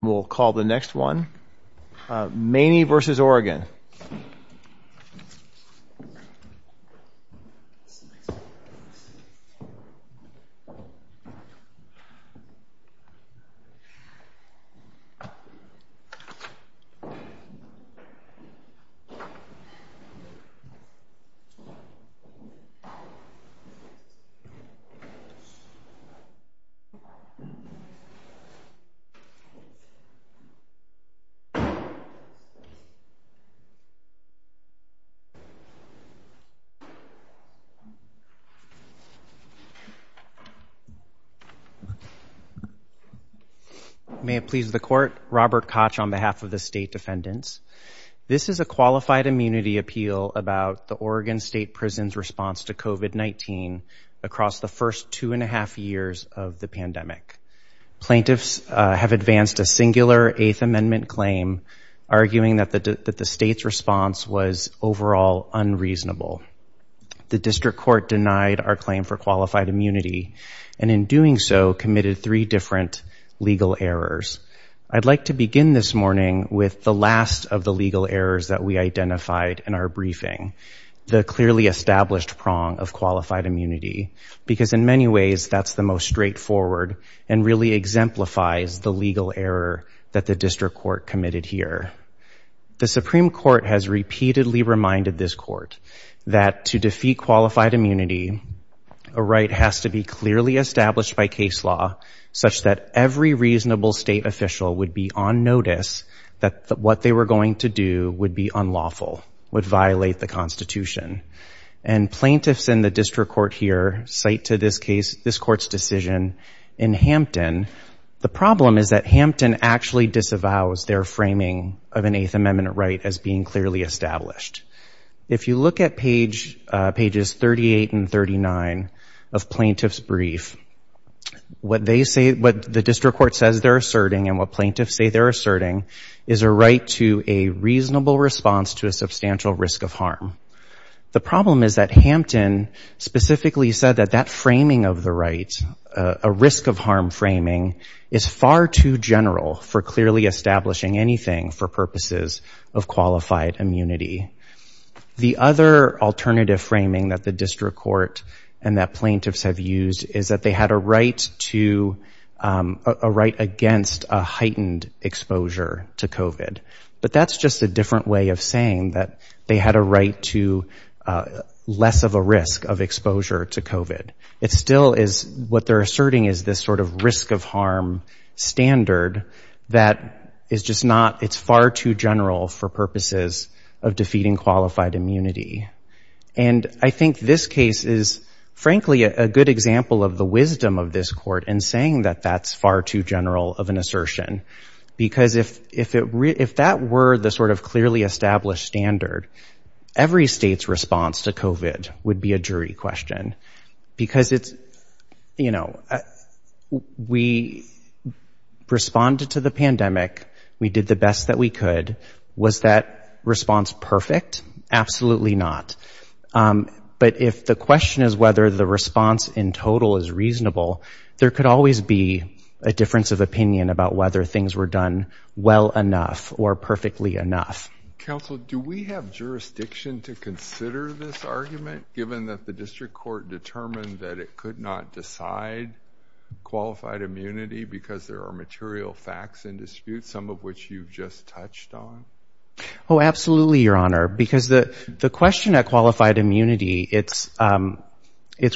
We'll call the next one. Maney v. Oregon May it please the Court, Robert Koch on behalf of the State Defendants. This is a Qualified Immunity Appeal about the Oregon State Prison's response to COVID-19 across the first two and a half years of the pandemic. Plaintiffs have advanced a singular 8th Amendment claim arguing that the State's response was overall unreasonable. The District Court denied our claim for qualified immunity and in doing so committed three different legal errors. I'd like to begin this morning with the last of the legal errors that we identified in our briefing, the clearly established prong of qualified immunity, because in many ways that's the most straightforward and really exemplifies the legal error that the District Court committed here. The Supreme Court has repeatedly reminded this Court that to defeat qualified immunity, a right has to be clearly established by case law such that every reasonable violation of the Constitution. And plaintiffs in the District Court here cite to this case, this Court's decision in Hampton. The problem is that Hampton actually disavows their framing of an 8th Amendment right as being clearly established. If you look at pages 38 and 39 of plaintiffs' brief, what the District Court says they're asserting and what plaintiffs say they're asserting is a right to a reasonable response to a substantial risk of harm. The problem is that Hampton specifically said that that framing of the right, a risk of harm framing, is far too general for clearly establishing anything for purposes of qualified immunity. The other alternative framing that the District Court and that plaintiffs have used is that they had a right against a heightened exposure to COVID. But that's just a different way of saying that they had a right to less of a risk of exposure to COVID. It still is what they're asserting is this sort of risk of harm standard that is just not, it's far too general for purposes of defeating qualified immunity. And I think this case is frankly a good example of the wisdom of this Court in saying that that's far too general of an assertion. Because if that were the sort of clearly established standard, every state's response to COVID would be a jury question. Because it's, you know, we responded to the pandemic, we did the best that we could. Was that response perfect? Absolutely not. But if the question is whether the response in total is reasonable, there could always be a difference of opinion about whether things were done well enough or perfectly enough. Counsel, do we have jurisdiction to consider this argument, given that the District Court determined that it could not decide qualified immunity because there are material facts in dispute, some of which you've just touched on? Oh, absolutely, Your Honor. Because the question at qualified immunity, it's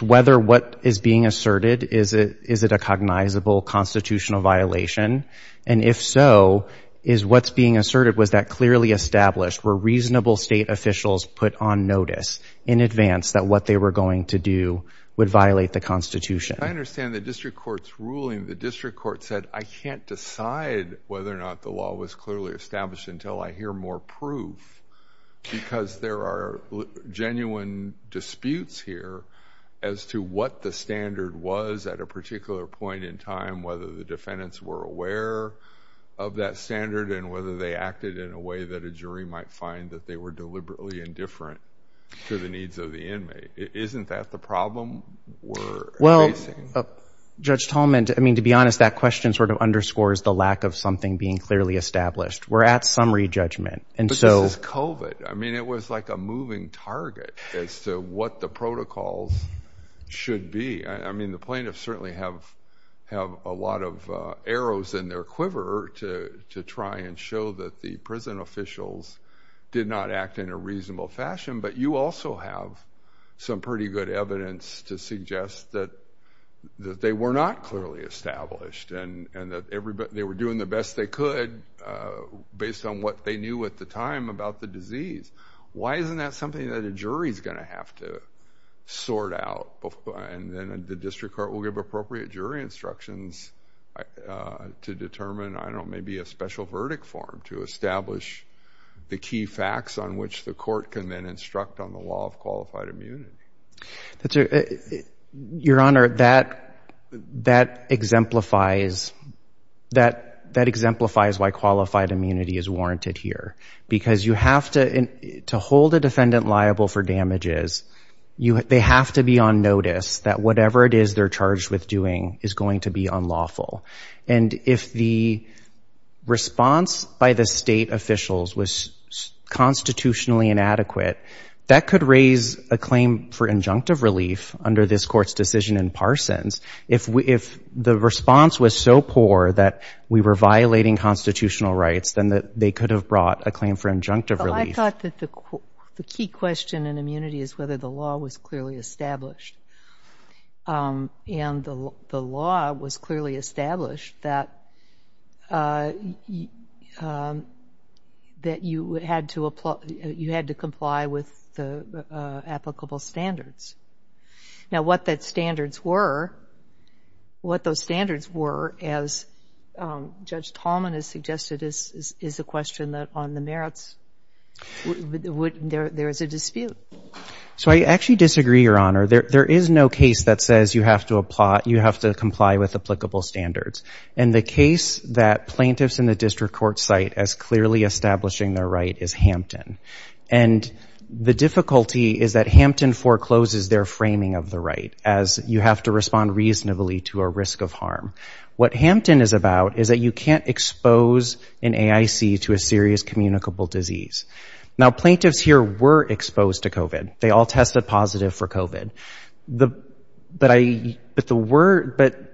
whether what is being asserted, is it a cognizable constitutional violation? And if so, is what's being asserted, was that clearly established? Were reasonable state officials put on notice in advance that what they were going to do would violate the Constitution? I understand the District Court's ruling, the District Court said, I can't decide whether or not the law was clearly established until I hear more proof. Because there are genuine disputes here as to what the standard was at a particular point in time, whether the defendants were aware of that standard and whether they acted in a way that a jury might find that they were deliberately indifferent to the needs of the inmate. Isn't that the problem we're facing? Well, Judge Tallman, I mean, to be honest, that question sort of underscores the lack of something being clearly established. We're at summary judgment. But this is COVID. I mean, it was like a moving target as to what the protocols should be. I mean, the plaintiffs certainly have a lot of arrows in their quiver to try and show that the prison officials did not act in a reasonable fashion. But you also have some pretty good evidence to suggest that they were not clearly established and that they were doing the best they could based on what they knew at the time about the disease. Why isn't that something that a jury is going to have to sort out? And then the District Court will give appropriate jury instructions to determine, I don't know, maybe a special verdict form to establish the key facts on which the court can then instruct on the law of qualified immunity. Your Honor, that exemplifies why qualified immunity is warranted here. Because you have to hold a defendant liable for damages. They have to be on notice that whatever it is they're charged with doing is going to be unlawful. And if the response by the state officials was constitutionally inadequate, that could raise a claim for injunctive relief under this Court's decision in Parsons. If the response was so poor that we were violating constitutional rights, then they could have brought a claim for injunctive relief. Well, I thought that the key question in immunity is whether the law was clearly established. And the law was clearly established that you had to comply with the applicable standards. Now, what those standards were, as Judge Tallman has suggested, is a question that on the merits there is a dispute. So I actually disagree, Your Honor. There is no case that says you have to comply with applicable standards. And the case that plaintiffs in the district court cite as clearly establishing their right is Hampton. And the difficulty is that Hampton forecloses their framing of the right, as you have to respond reasonably to a risk of harm. What Hampton is about is that you can't expose an AIC to a serious communicable disease. Now, plaintiffs here were exposed to COVID. They all tested positive for COVID. But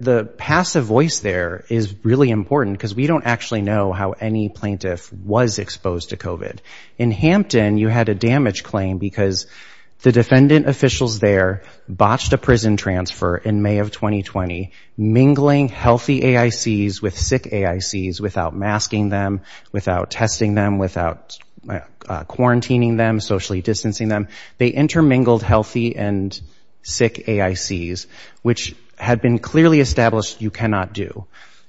the passive voice there is really important because we don't actually know how any plaintiff was exposed to COVID. In Hampton, you had a damage claim because the defendant officials there botched a prison transfer in May of 2020, mingling healthy AICs with sick AICs without masking them, without testing them, without quarantining them, socially distancing them. They intermingled healthy and sick AICs, which had been clearly established you cannot do.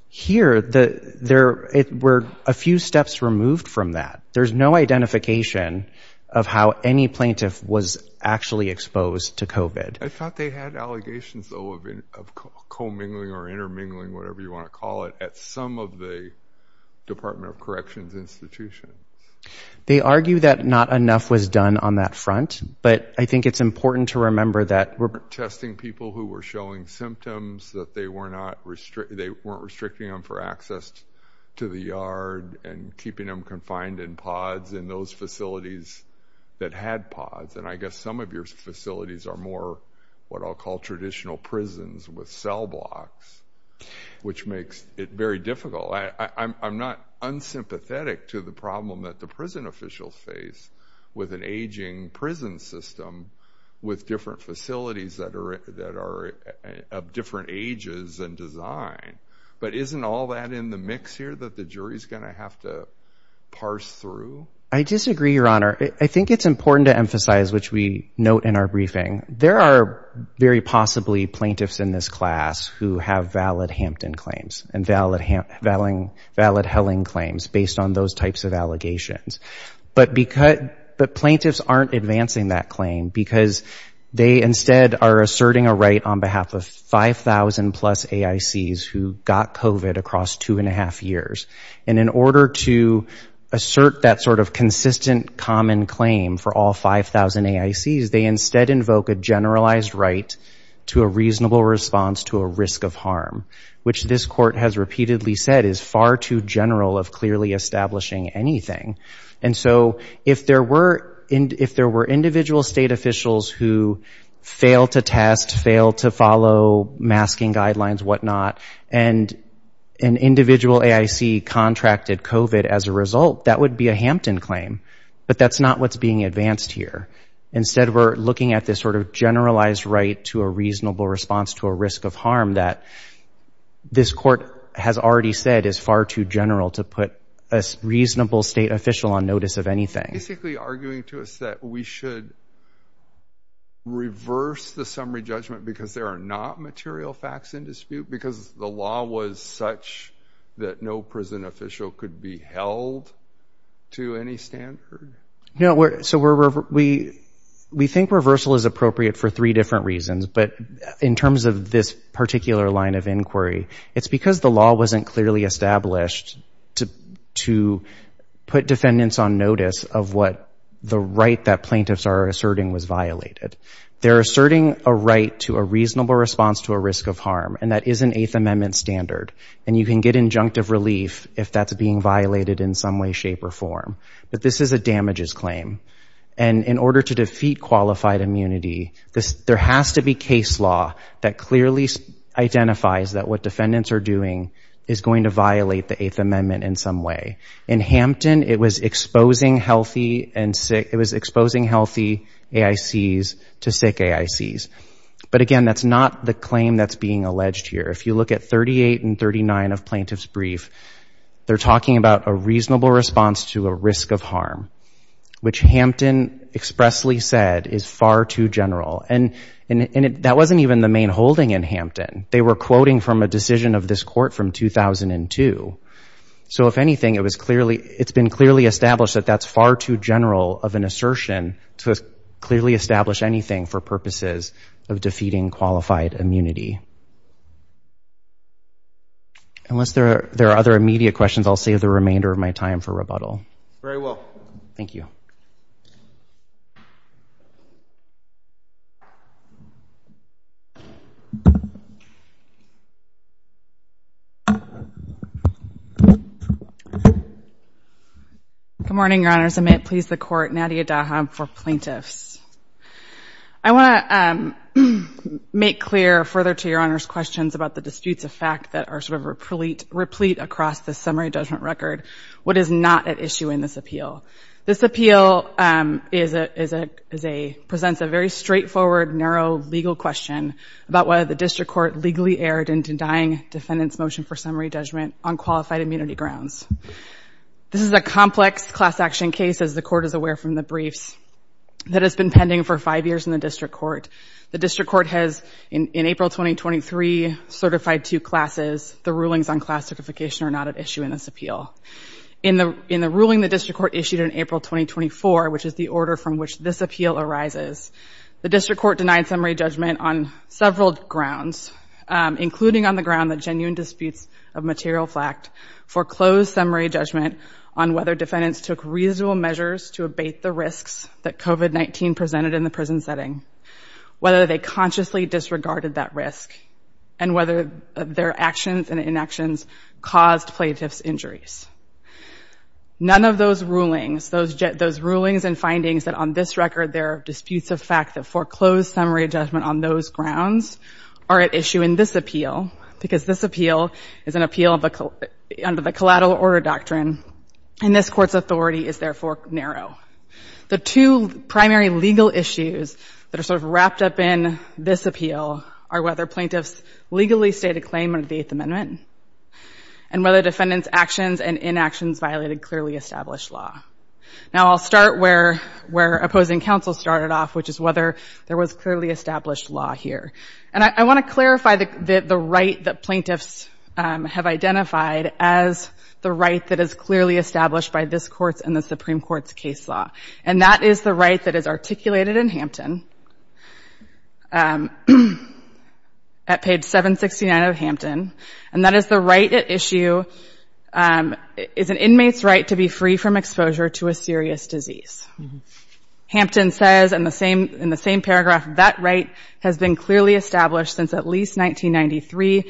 Here, there were a few steps removed from that. There's no identification of how any plaintiff was actually exposed to COVID. I thought they had allegations, though, of commingling or intermingling, whatever you want to call it, at some of the Department of Corrections institutions. They argue that not enough was done on that front. But I think it's important to remember that we're testing people who were showing symptoms, that they weren't restricting them for access to the yard and keeping them confined in pods in those facilities that had pods. And I guess some of your facilities are more what I'll call traditional prisons with cell blocks, which makes it very difficult. I'm not unsympathetic to the problem that the prison officials face with an aging prison system with different facilities that are of different ages and design. But isn't all that in the mix here that the jury's going to have to parse through? I disagree, Your Honor. I think it's important to emphasize, which we note in our briefing, there are very possibly plaintiffs in this class who have valid Hampton claims and valid Helling claims based on those types of allegations. But plaintiffs aren't advancing that claim because they instead are asserting a right on behalf of 5,000 plus AICs who got COVID across two and a half years. And in order to assert that sort of consistent common claim for all 5,000 AICs, they instead invoke a generalized right to a reasonable response to a risk of harm, which this court has repeatedly said is far too general of clearly establishing anything. And so if there were individual state officials who failed to test, failed to follow masking guidelines, whatnot, and an individual AIC contracted COVID as a result, that would be a Hampton claim. But that's not what's being advanced here. Instead, we're looking at this sort of generalized right to a reasonable response to a risk of harm that this court has already said is far too general to put a reasonable state official on notice of anything. Basically arguing to us that we should reverse the summary judgment because there are not material facts in dispute because the law was such that no prison official could be held to any standard? So we think reversal is appropriate for three different reasons. But in terms of this particular line of inquiry, it's because the law wasn't clearly established to put defendants on notice of what the right that plaintiffs are asserting was violated. They're asserting a right to a reasonable response to a risk of harm. And that is an Eighth Amendment standard. And you can get injunctive relief if that's being violated in some way, shape, or form. But this is a damages claim. And in order to defeat qualified immunity, there has to be case law that clearly identifies that what defendants are doing is going to violate the Eighth Amendment in some way. In Hampton, it was exposing healthy AICs to sick AICs. But again, that's not the claim that's being alleged here. If you look at 38 and 39 of Plaintiff's Brief, they're talking about a reasonable response to a risk of harm, which Hampton expressly said is far too general. And that wasn't even the main holding in Hampton. They were quoting from a decision of this court from 2002. So if anything, it's been clearly established that that's far too general of an assertion to clearly establish anything for purposes of defeating qualified immunity. Unless there are other immediate questions, I'll save the remainder of my time for rebuttal. Very well. Thank you. Good morning, Your Honors. I'm at Pleas the Court, Nadia Dahab for Plaintiffs. I want to make clear further to Your Honors questions about the disputes of fact that are sort of replete across the summary judgment record. What is not at issue in this appeal? This appeal presents a very straightforward, narrow legal question about whether the District Court legally erred in denying defendants' motion for summary judgment on qualified immunity grounds. This is a complex class action case, as the Court is aware from the briefs, that has been pending for five years in the District Court. The District Court has, in April 2023, certified two classes. The rulings on class certification are not at issue in this appeal. In the ruling the District Court issued in April 2024, which is the order from which this appeal arises, the District Court denied summary judgment on several grounds, including on the ground that genuine disputes of material fact foreclosed summary judgment on whether defendants took reasonable measures to abate the risks that COVID-19 presented in the prison setting, whether they consciously disregarded that risk, and whether their actions and inactions caused plaintiffs' injuries. None of those rulings, those rulings and findings that on this record there are disputes of fact that foreclosed summary judgment on those grounds are at issue in this appeal, because this appeal is an appeal under the collateral order doctrine, and this Court's authority is, therefore, narrow. The two primary legal issues that are sort of wrapped up in this appeal are whether plaintiffs legally stated claim under the Eighth Amendment, and whether defendants' actions and inactions violated clearly established law. Now, I'll start where opposing counsel started off, which is whether there was clearly established law here. And I want to clarify the right that plaintiffs have identified as the right that is clearly established by this Court's and the Supreme Court's case law. And that is the right that is articulated in Hampton at page 769 of Hampton, and that is the right at issue is an inmate's right to be free from exposure to a serious disease. Hampton says in the same paragraph, that right has been clearly established since at least McKinney.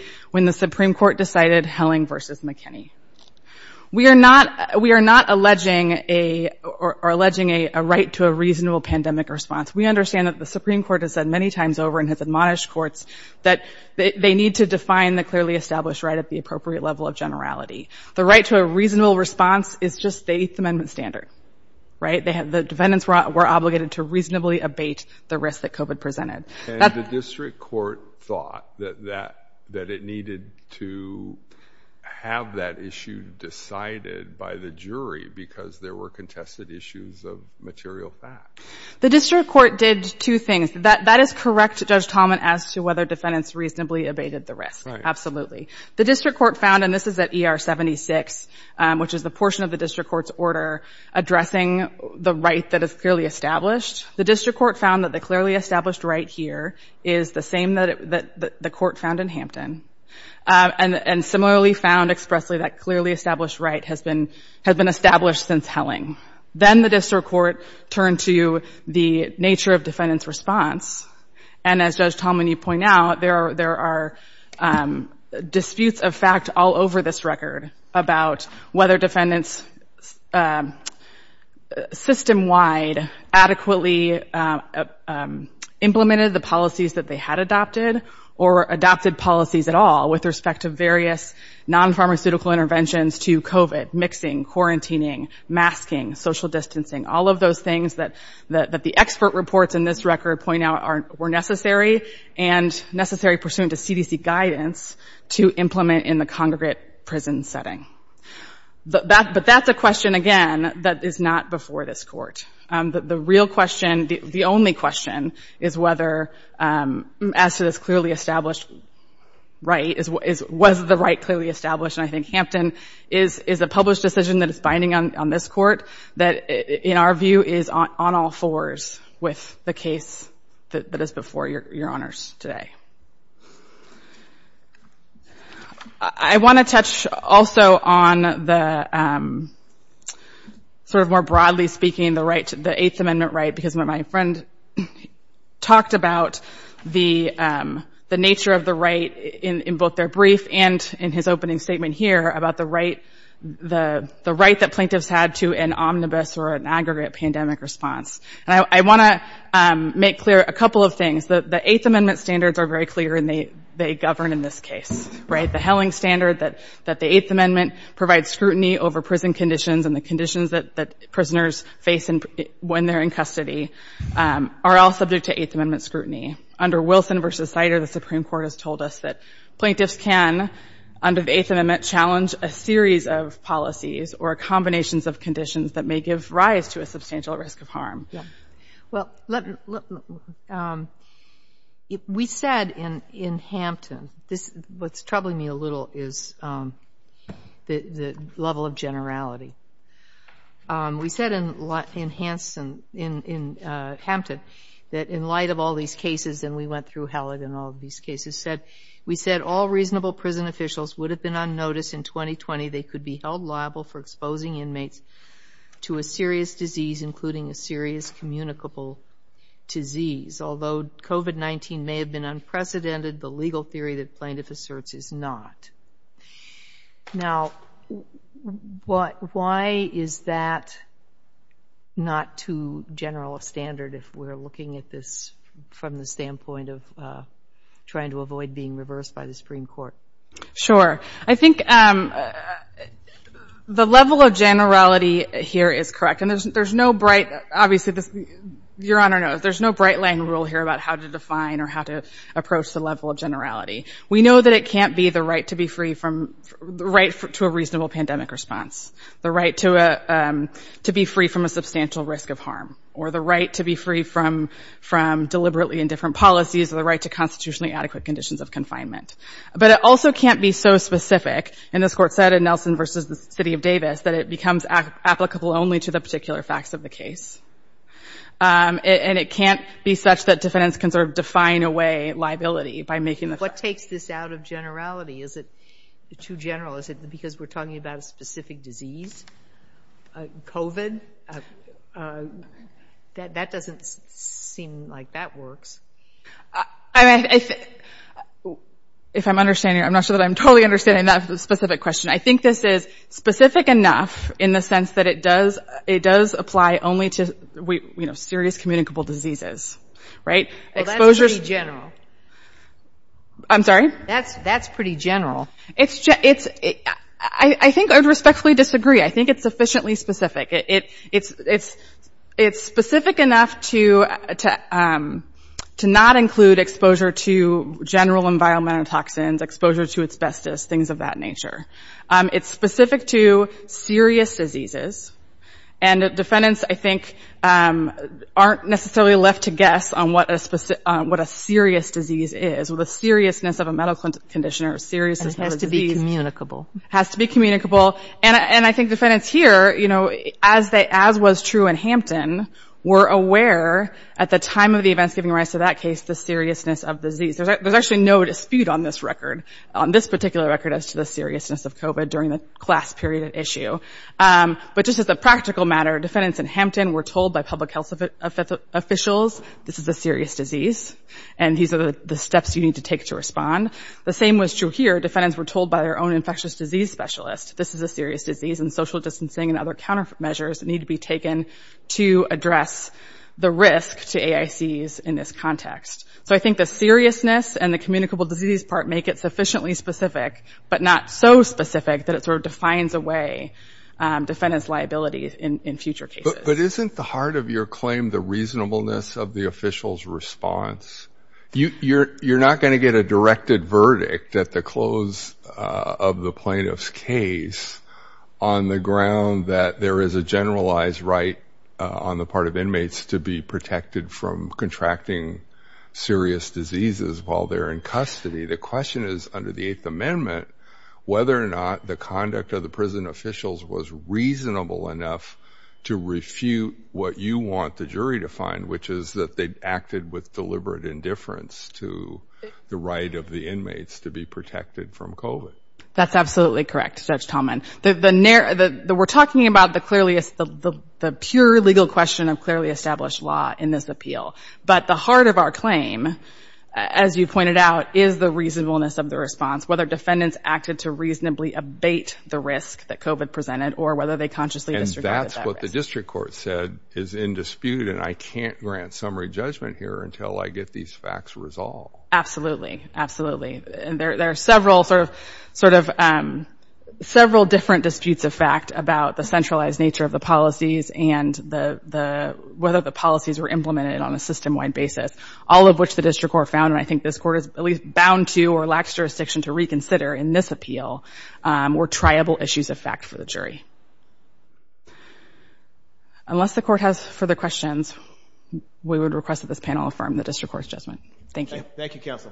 We are not alleging a right to a reasonable pandemic response. We understand that the Supreme Court has said many times over and has admonished courts that they need to define the clearly established right at the appropriate level of generality. The right to a reasonable response is just the Eighth Amendment standard. The defendants were obligated to reasonably abate the risk that COVID presented. And the district court thought that it needed to have that issue decided by the jury because there were contested issues of material fact. The district court did two things. That is correct, Judge Tallman, as to whether defendants reasonably abated the risk. Absolutely. The district court found, and this is at ER 76, which is the portion of the district court's order addressing the right that is clearly established. The district court found that the clearly established right here is the same that the court found in Hampton. And similarly found expressly that clearly established right has been established since Helling. Then the district court turned to the nature of defendant's response. And as Judge Tallman, you point out, there are disputes of fact all over this record about whether defendants system-wide adequately implemented the policies that they had adopted or adopted policies at all with respect to various non-pharmaceutical interventions to COVID, mixing, quarantining, masking, social distancing, all of those things that the expert reports in this record point out were necessary and necessary pursuant to CDC guidance to implement in the congregate prison setting. But that's a question, again, that is not before this court. The real question, the only question, is whether, as to this clearly established right, was the right clearly established? And I think Hampton is a published decision that is binding on this court that, in our view, is on all fours with the case that is before your honors today. I want to touch also on the, sort of more broadly speaking, the right, the Eighth Amendment right, because my friend talked about the nature of the right in both their brief and in his opening statement here about the right that plaintiffs had to an omnibus or an aggregate of the right. A couple of things. The Eighth Amendment standards are very clear and they govern in this case, right? The Helling standard that the Eighth Amendment provides scrutiny over prison conditions and the conditions that prisoners face when they're in custody are all subject to Eighth Amendment scrutiny. Under Wilson v. Sider, the Supreme Court has told us that plaintiffs can, under the Eighth Amendment, challenge a series of policies or combinations of conditions that may give rise to a substantial risk of harm. Well, we said in Hampton, this, what's troubling me a little is the level of generality. We said in Hampton that in light of all these cases, and we went through Hallett in all of these cases, said, we said all reasonable prison officials would have been on notice in 2020 they could be held liable for exposing inmates to a serious disease, including a serious communicable disease. Although COVID-19 may have been unprecedented, the legal theory that plaintiff asserts is not. Now, why is that not too general a standard if we're looking at this from the standpoint of trying to avoid being reversed by the Supreme Court? Sure. I think the level of generality here is correct. And there's no bright, obvious this, Your Honor, no, there's no bright-lighting rule here about how to define or how to approach the level of generality. We know that it can't be the right to be free from, the right to a reasonable pandemic response, the right to be free from a substantial risk of harm, or the right to be free from deliberately indifferent policies, or the right to constitutionally adequate conditions of confinement. But it also can't be so specific, and this Court said in Nelson v. The City of Davis, that it becomes applicable only to the particular facts of the case. And it can't be such that defendants can sort of define away liability by making the facts. What takes this out of generality? Is it too general? Is it because we're talking about a specific disease? COVID? That doesn't seem like that works. If I'm understanding, I'm not sure that I'm totally understanding that specific question. I think this is specific enough in the sense that it does apply only to serious communicable diseases. Well, that's pretty general. I'm sorry? That's pretty general. I think I would respectfully disagree. I think it's sufficiently specific. It's specific enough to not include exposure to general environmental toxins, exposure to asbestos, things of that nature. It's specific to serious diseases. And defendants, I think, aren't necessarily left to guess on what a serious disease is, the seriousness of a medical condition or seriousness of a disease has to be communicable. And I think defendants here, as was true in Hampton, were aware at the time of the events giving rise to that case, the seriousness of the disease. There's actually no dispute on this record, on this particular record, as to the seriousness of COVID during the class period issue. But just as a practical matter, defendants in Hampton were told by public health officials, this is a serious disease, and these are the steps you need to take to respond. The same was true here. Defendants were told by their own infectious disease specialist, this is a serious disease, and social distancing and other countermeasures need to be taken to address the risk to AICs in this context. So I think the seriousness and the communicable disease part make it sufficiently specific, but not so specific that it sort of defines a way defendants' liability in future cases. But isn't the heart of your claim the reasonableness of the official's response? You're not going to get a directed verdict at the close of the plaintiff's case on the ground that there is a generalized right on the part of inmates to be protected from contracting serious diseases while they're in custody. The question is, under the Eighth Amendment, whether or not the conduct of the prison officials was reasonable enough to refute what you want the jury to find, which is that they acted with deliberate indifference to the right of the inmates to be protected from COVID. That's absolutely correct, Judge Tallman. We're talking about the pure legal question of clearly established law in this appeal. But the heart of our claim, as you pointed out, is the reasonableness of the response, whether defendants acted to reasonably abate the risk that COVID presented or whether they consciously disregarded that risk. And that's what the district court said is in dispute, and I can't grant summary judgment here until I get these facts resolved. Absolutely, absolutely. There are several different disputes of fact about the centralized nature of the policies and whether the policies were implemented on a system-wide basis, all of which the district court found, and I think this court is at least bound to or lacks jurisdiction to reconsider in this appeal, were triable issues of fact for the jury. Unless the court has further questions, we would request that this panel affirm the district court's judgment. Thank you. Thank you, Counsel.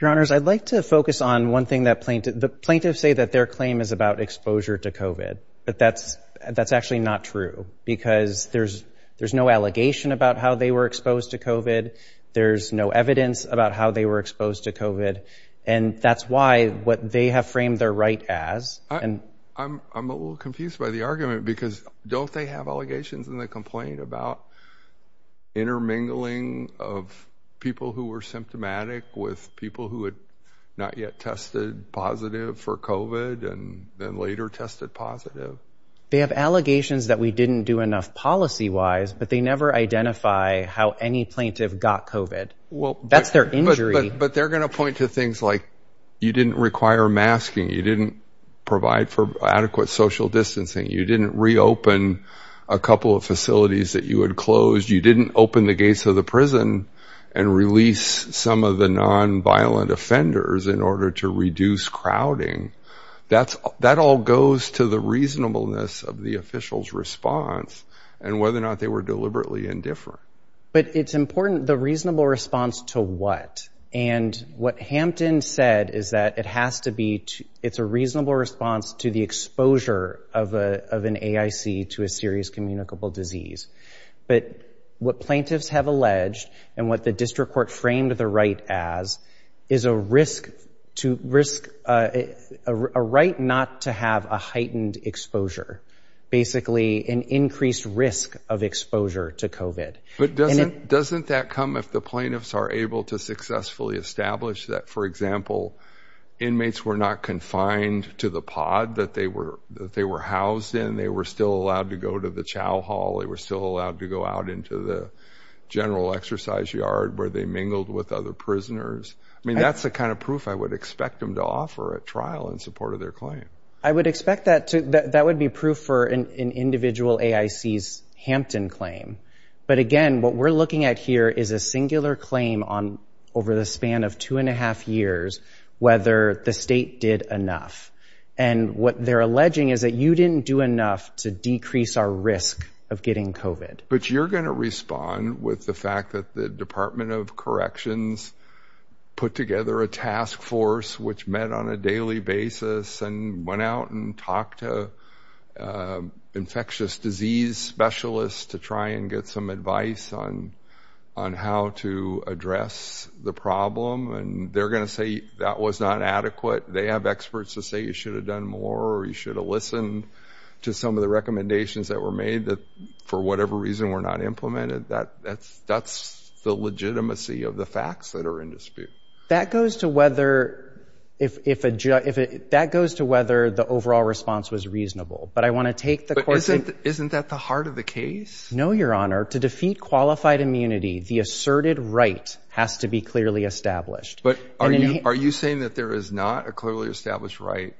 Your Honors, I'd like to focus on one thing that plaintiffs say that their claim is about exposure to COVID, but that's actually not true because there's no allegation about how they were exposed to COVID, there's no evidence about how they were exposed to COVID, and that's why what they have framed their right as. I'm a little confused by the argument because don't they have allegations in the complaint about intermingling of people who were symptomatic with people who had not yet tested positive for COVID and then later tested positive? They have allegations that we didn't do enough policy-wise, but they never identify how any plaintiff got COVID. That's their injury. But they're going to point to things like you didn't require masking, you didn't provide for adequate social distancing, you didn't reopen a couple of facilities that you had closed, you didn't open the gates of the prison and release some of the nonviolent offenders in order to reduce crowding. That all goes to the reasonableness of the official's response and whether or not they were deliberately indifferent. But it's important, the reasonable response to what? What Hampton said is that it's a reasonable response to the exposure of an AIC to a serious communicable disease. But what plaintiffs have alleged and what the district court framed the right as is a right not to have a heightened exposure, basically an increased risk of exposure to COVID. But doesn't that come if the plaintiffs are able to successfully establish that, for example, inmates were not confined to the pod that they were housed in, they were still allowed to go to the chow hall, they were still allowed to go out into the general exercise yard where they mingled with other prisoners? I mean, that's the kind of proof I would expect them to offer at trial in support of their claim. I would expect that would be proof for an individual AIC's Hampton claim. But again, what we're looking at here is a singular claim over the span of two and a half years, whether the state did enough. And what they're alleging is that you didn't do enough to decrease our risk of getting COVID. But you're going to respond with the fact that the Department of Corrections put together a task force which met on a daily basis and went out and talked to infectious disease specialists to try and get some advice on how to address the problem. And they're going to say that was not adequate. They have experts to say you should have done more, or you should have listened to some of the recommendations that were made that for whatever reason were not implemented. That's the legitimacy of the facts that are in dispute. That goes to whether the overall response was reasonable. But isn't that the heart of the case? No, Your Honor. To defeat qualified immunity, the asserted right has to be clearly established. But are you saying that there is not a clearly established right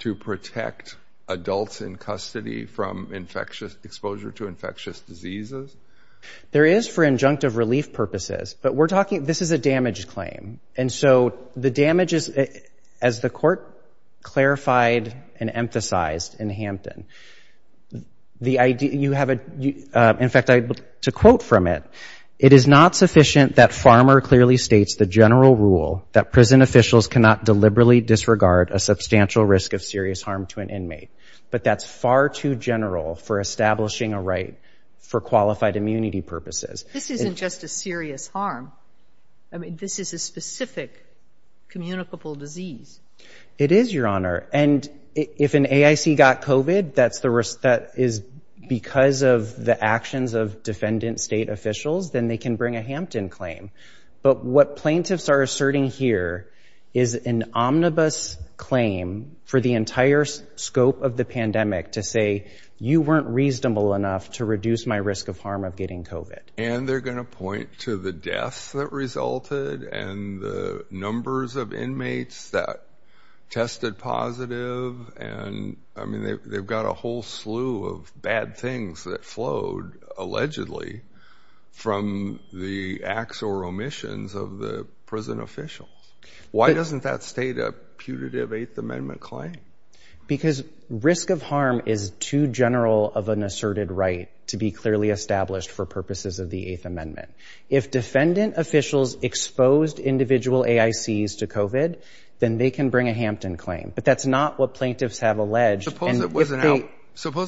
to protect adults in custody from exposure to infectious diseases? There is for injunctive relief purposes, but this is a damaged claim. And so the damage is, as the court clarified and emphasized in Hampton, you have a, in fact, to quote from it, it is not sufficient that Farmer clearly states the general rule that prison officials cannot deliberately disregard a substantial risk of serious harm to an inmate. But that's far too general for establishing a right for qualified immunity purposes. This isn't just a serious harm. I mean, this is a specific communicable disease. It is, Your Honor. And if an AIC got COVID, that is because of the actions of defendant state officials, then they can bring a Hampton claim. But what plaintiffs are asserting here is an omnibus claim for the entire scope of the pandemic to say you weren't reasonable enough to reduce my risk of harm of getting COVID. And they're going to point to the deaths that resulted and the numbers of inmates that tested positive. And, I mean, they've got a whole slew of bad things that flowed, allegedly, from the acts or omissions of the prison official. Why doesn't that state a putative Eighth Amendment claim? Because risk of harm is too general of an asserted right to be clearly established for purposes of the Eighth Amendment. If defendant officials exposed individual AICs to COVID, then they can bring a Hampton claim. But that's not what plaintiffs have alleged. Suppose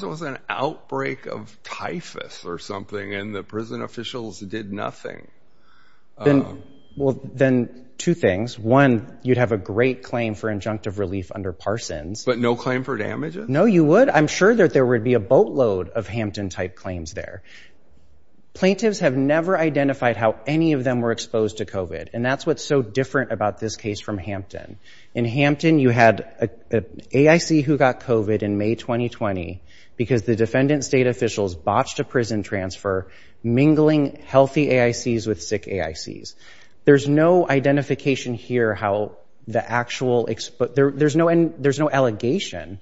it was an outbreak of typhus or something and the prison officials did nothing. Well, then two things. One, you'd have a great claim for injunctive relief under Parsons. But no claim for damages? No, you would. And I'm sure that there would be a boatload of Hampton-type claims there. Plaintiffs have never identified how any of them were exposed to COVID. And that's what's so different about this case from Hampton. In Hampton, you had an AIC who got COVID in May 2020 because the defendant state officials botched a prison transfer, mingling healthy AICs with sick AICs. There's no identification here how the actual— There's no allegation,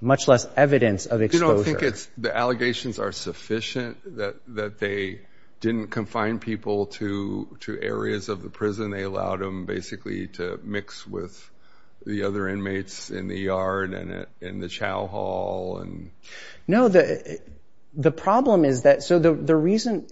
much less evidence of exposure. You don't think the allegations are sufficient, that they didn't confine people to areas of the prison? They allowed them basically to mix with the other inmates in the yard and in the chow hall? No, the problem is that—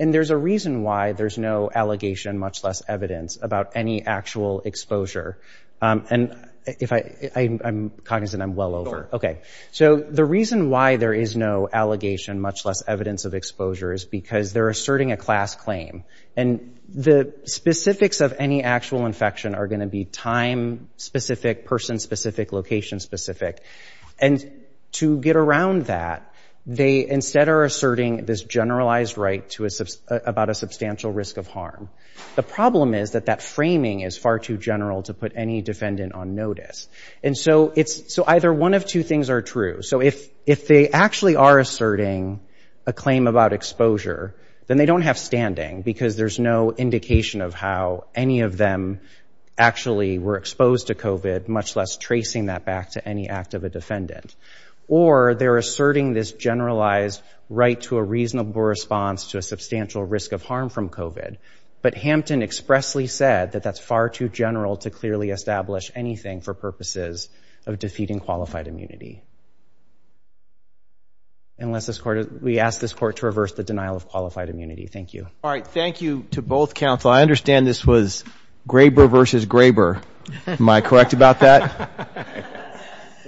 And there's a reason why there's no allegation, much less evidence, about any actual exposure. And if I'm cognizant, I'm well over. Okay. So the reason why there is no allegation, much less evidence of exposure, is because they're asserting a class claim. And the specifics of any actual infection are going to be time-specific, person-specific, location-specific. And to get around that, they instead are asserting this generalized right about a substantial risk of harm. The problem is that that framing is far too general to put any defendant on notice. And so either one of two things are true. So if they actually are asserting a claim about exposure, then they don't have standing, because there's no indication of how any of them actually were exposed to COVID, much less tracing that back to any active defendant. Or they're asserting this generalized right to a reasonable response to a substantial risk of harm from COVID. But Hampton expressly said that that's far too general to clearly establish anything for purposes of defeating qualified immunity. Unless we ask this Court to reverse the denial of qualified immunity. Thank you. All right. Thank you to both counsel. I understand this was Graber versus Graber. Am I correct about that?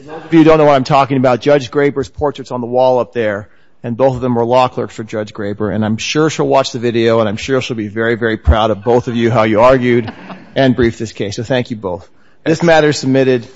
Most of you don't know what I'm talking about. Judge Graber's portrait's on the wall up there, and both of them were law clerks for Judge Graber. And I'm sure she'll watch the video, and I'm sure she'll be very, very proud of both of you, how you argued and briefed this case. So thank you both. This matter is submitted.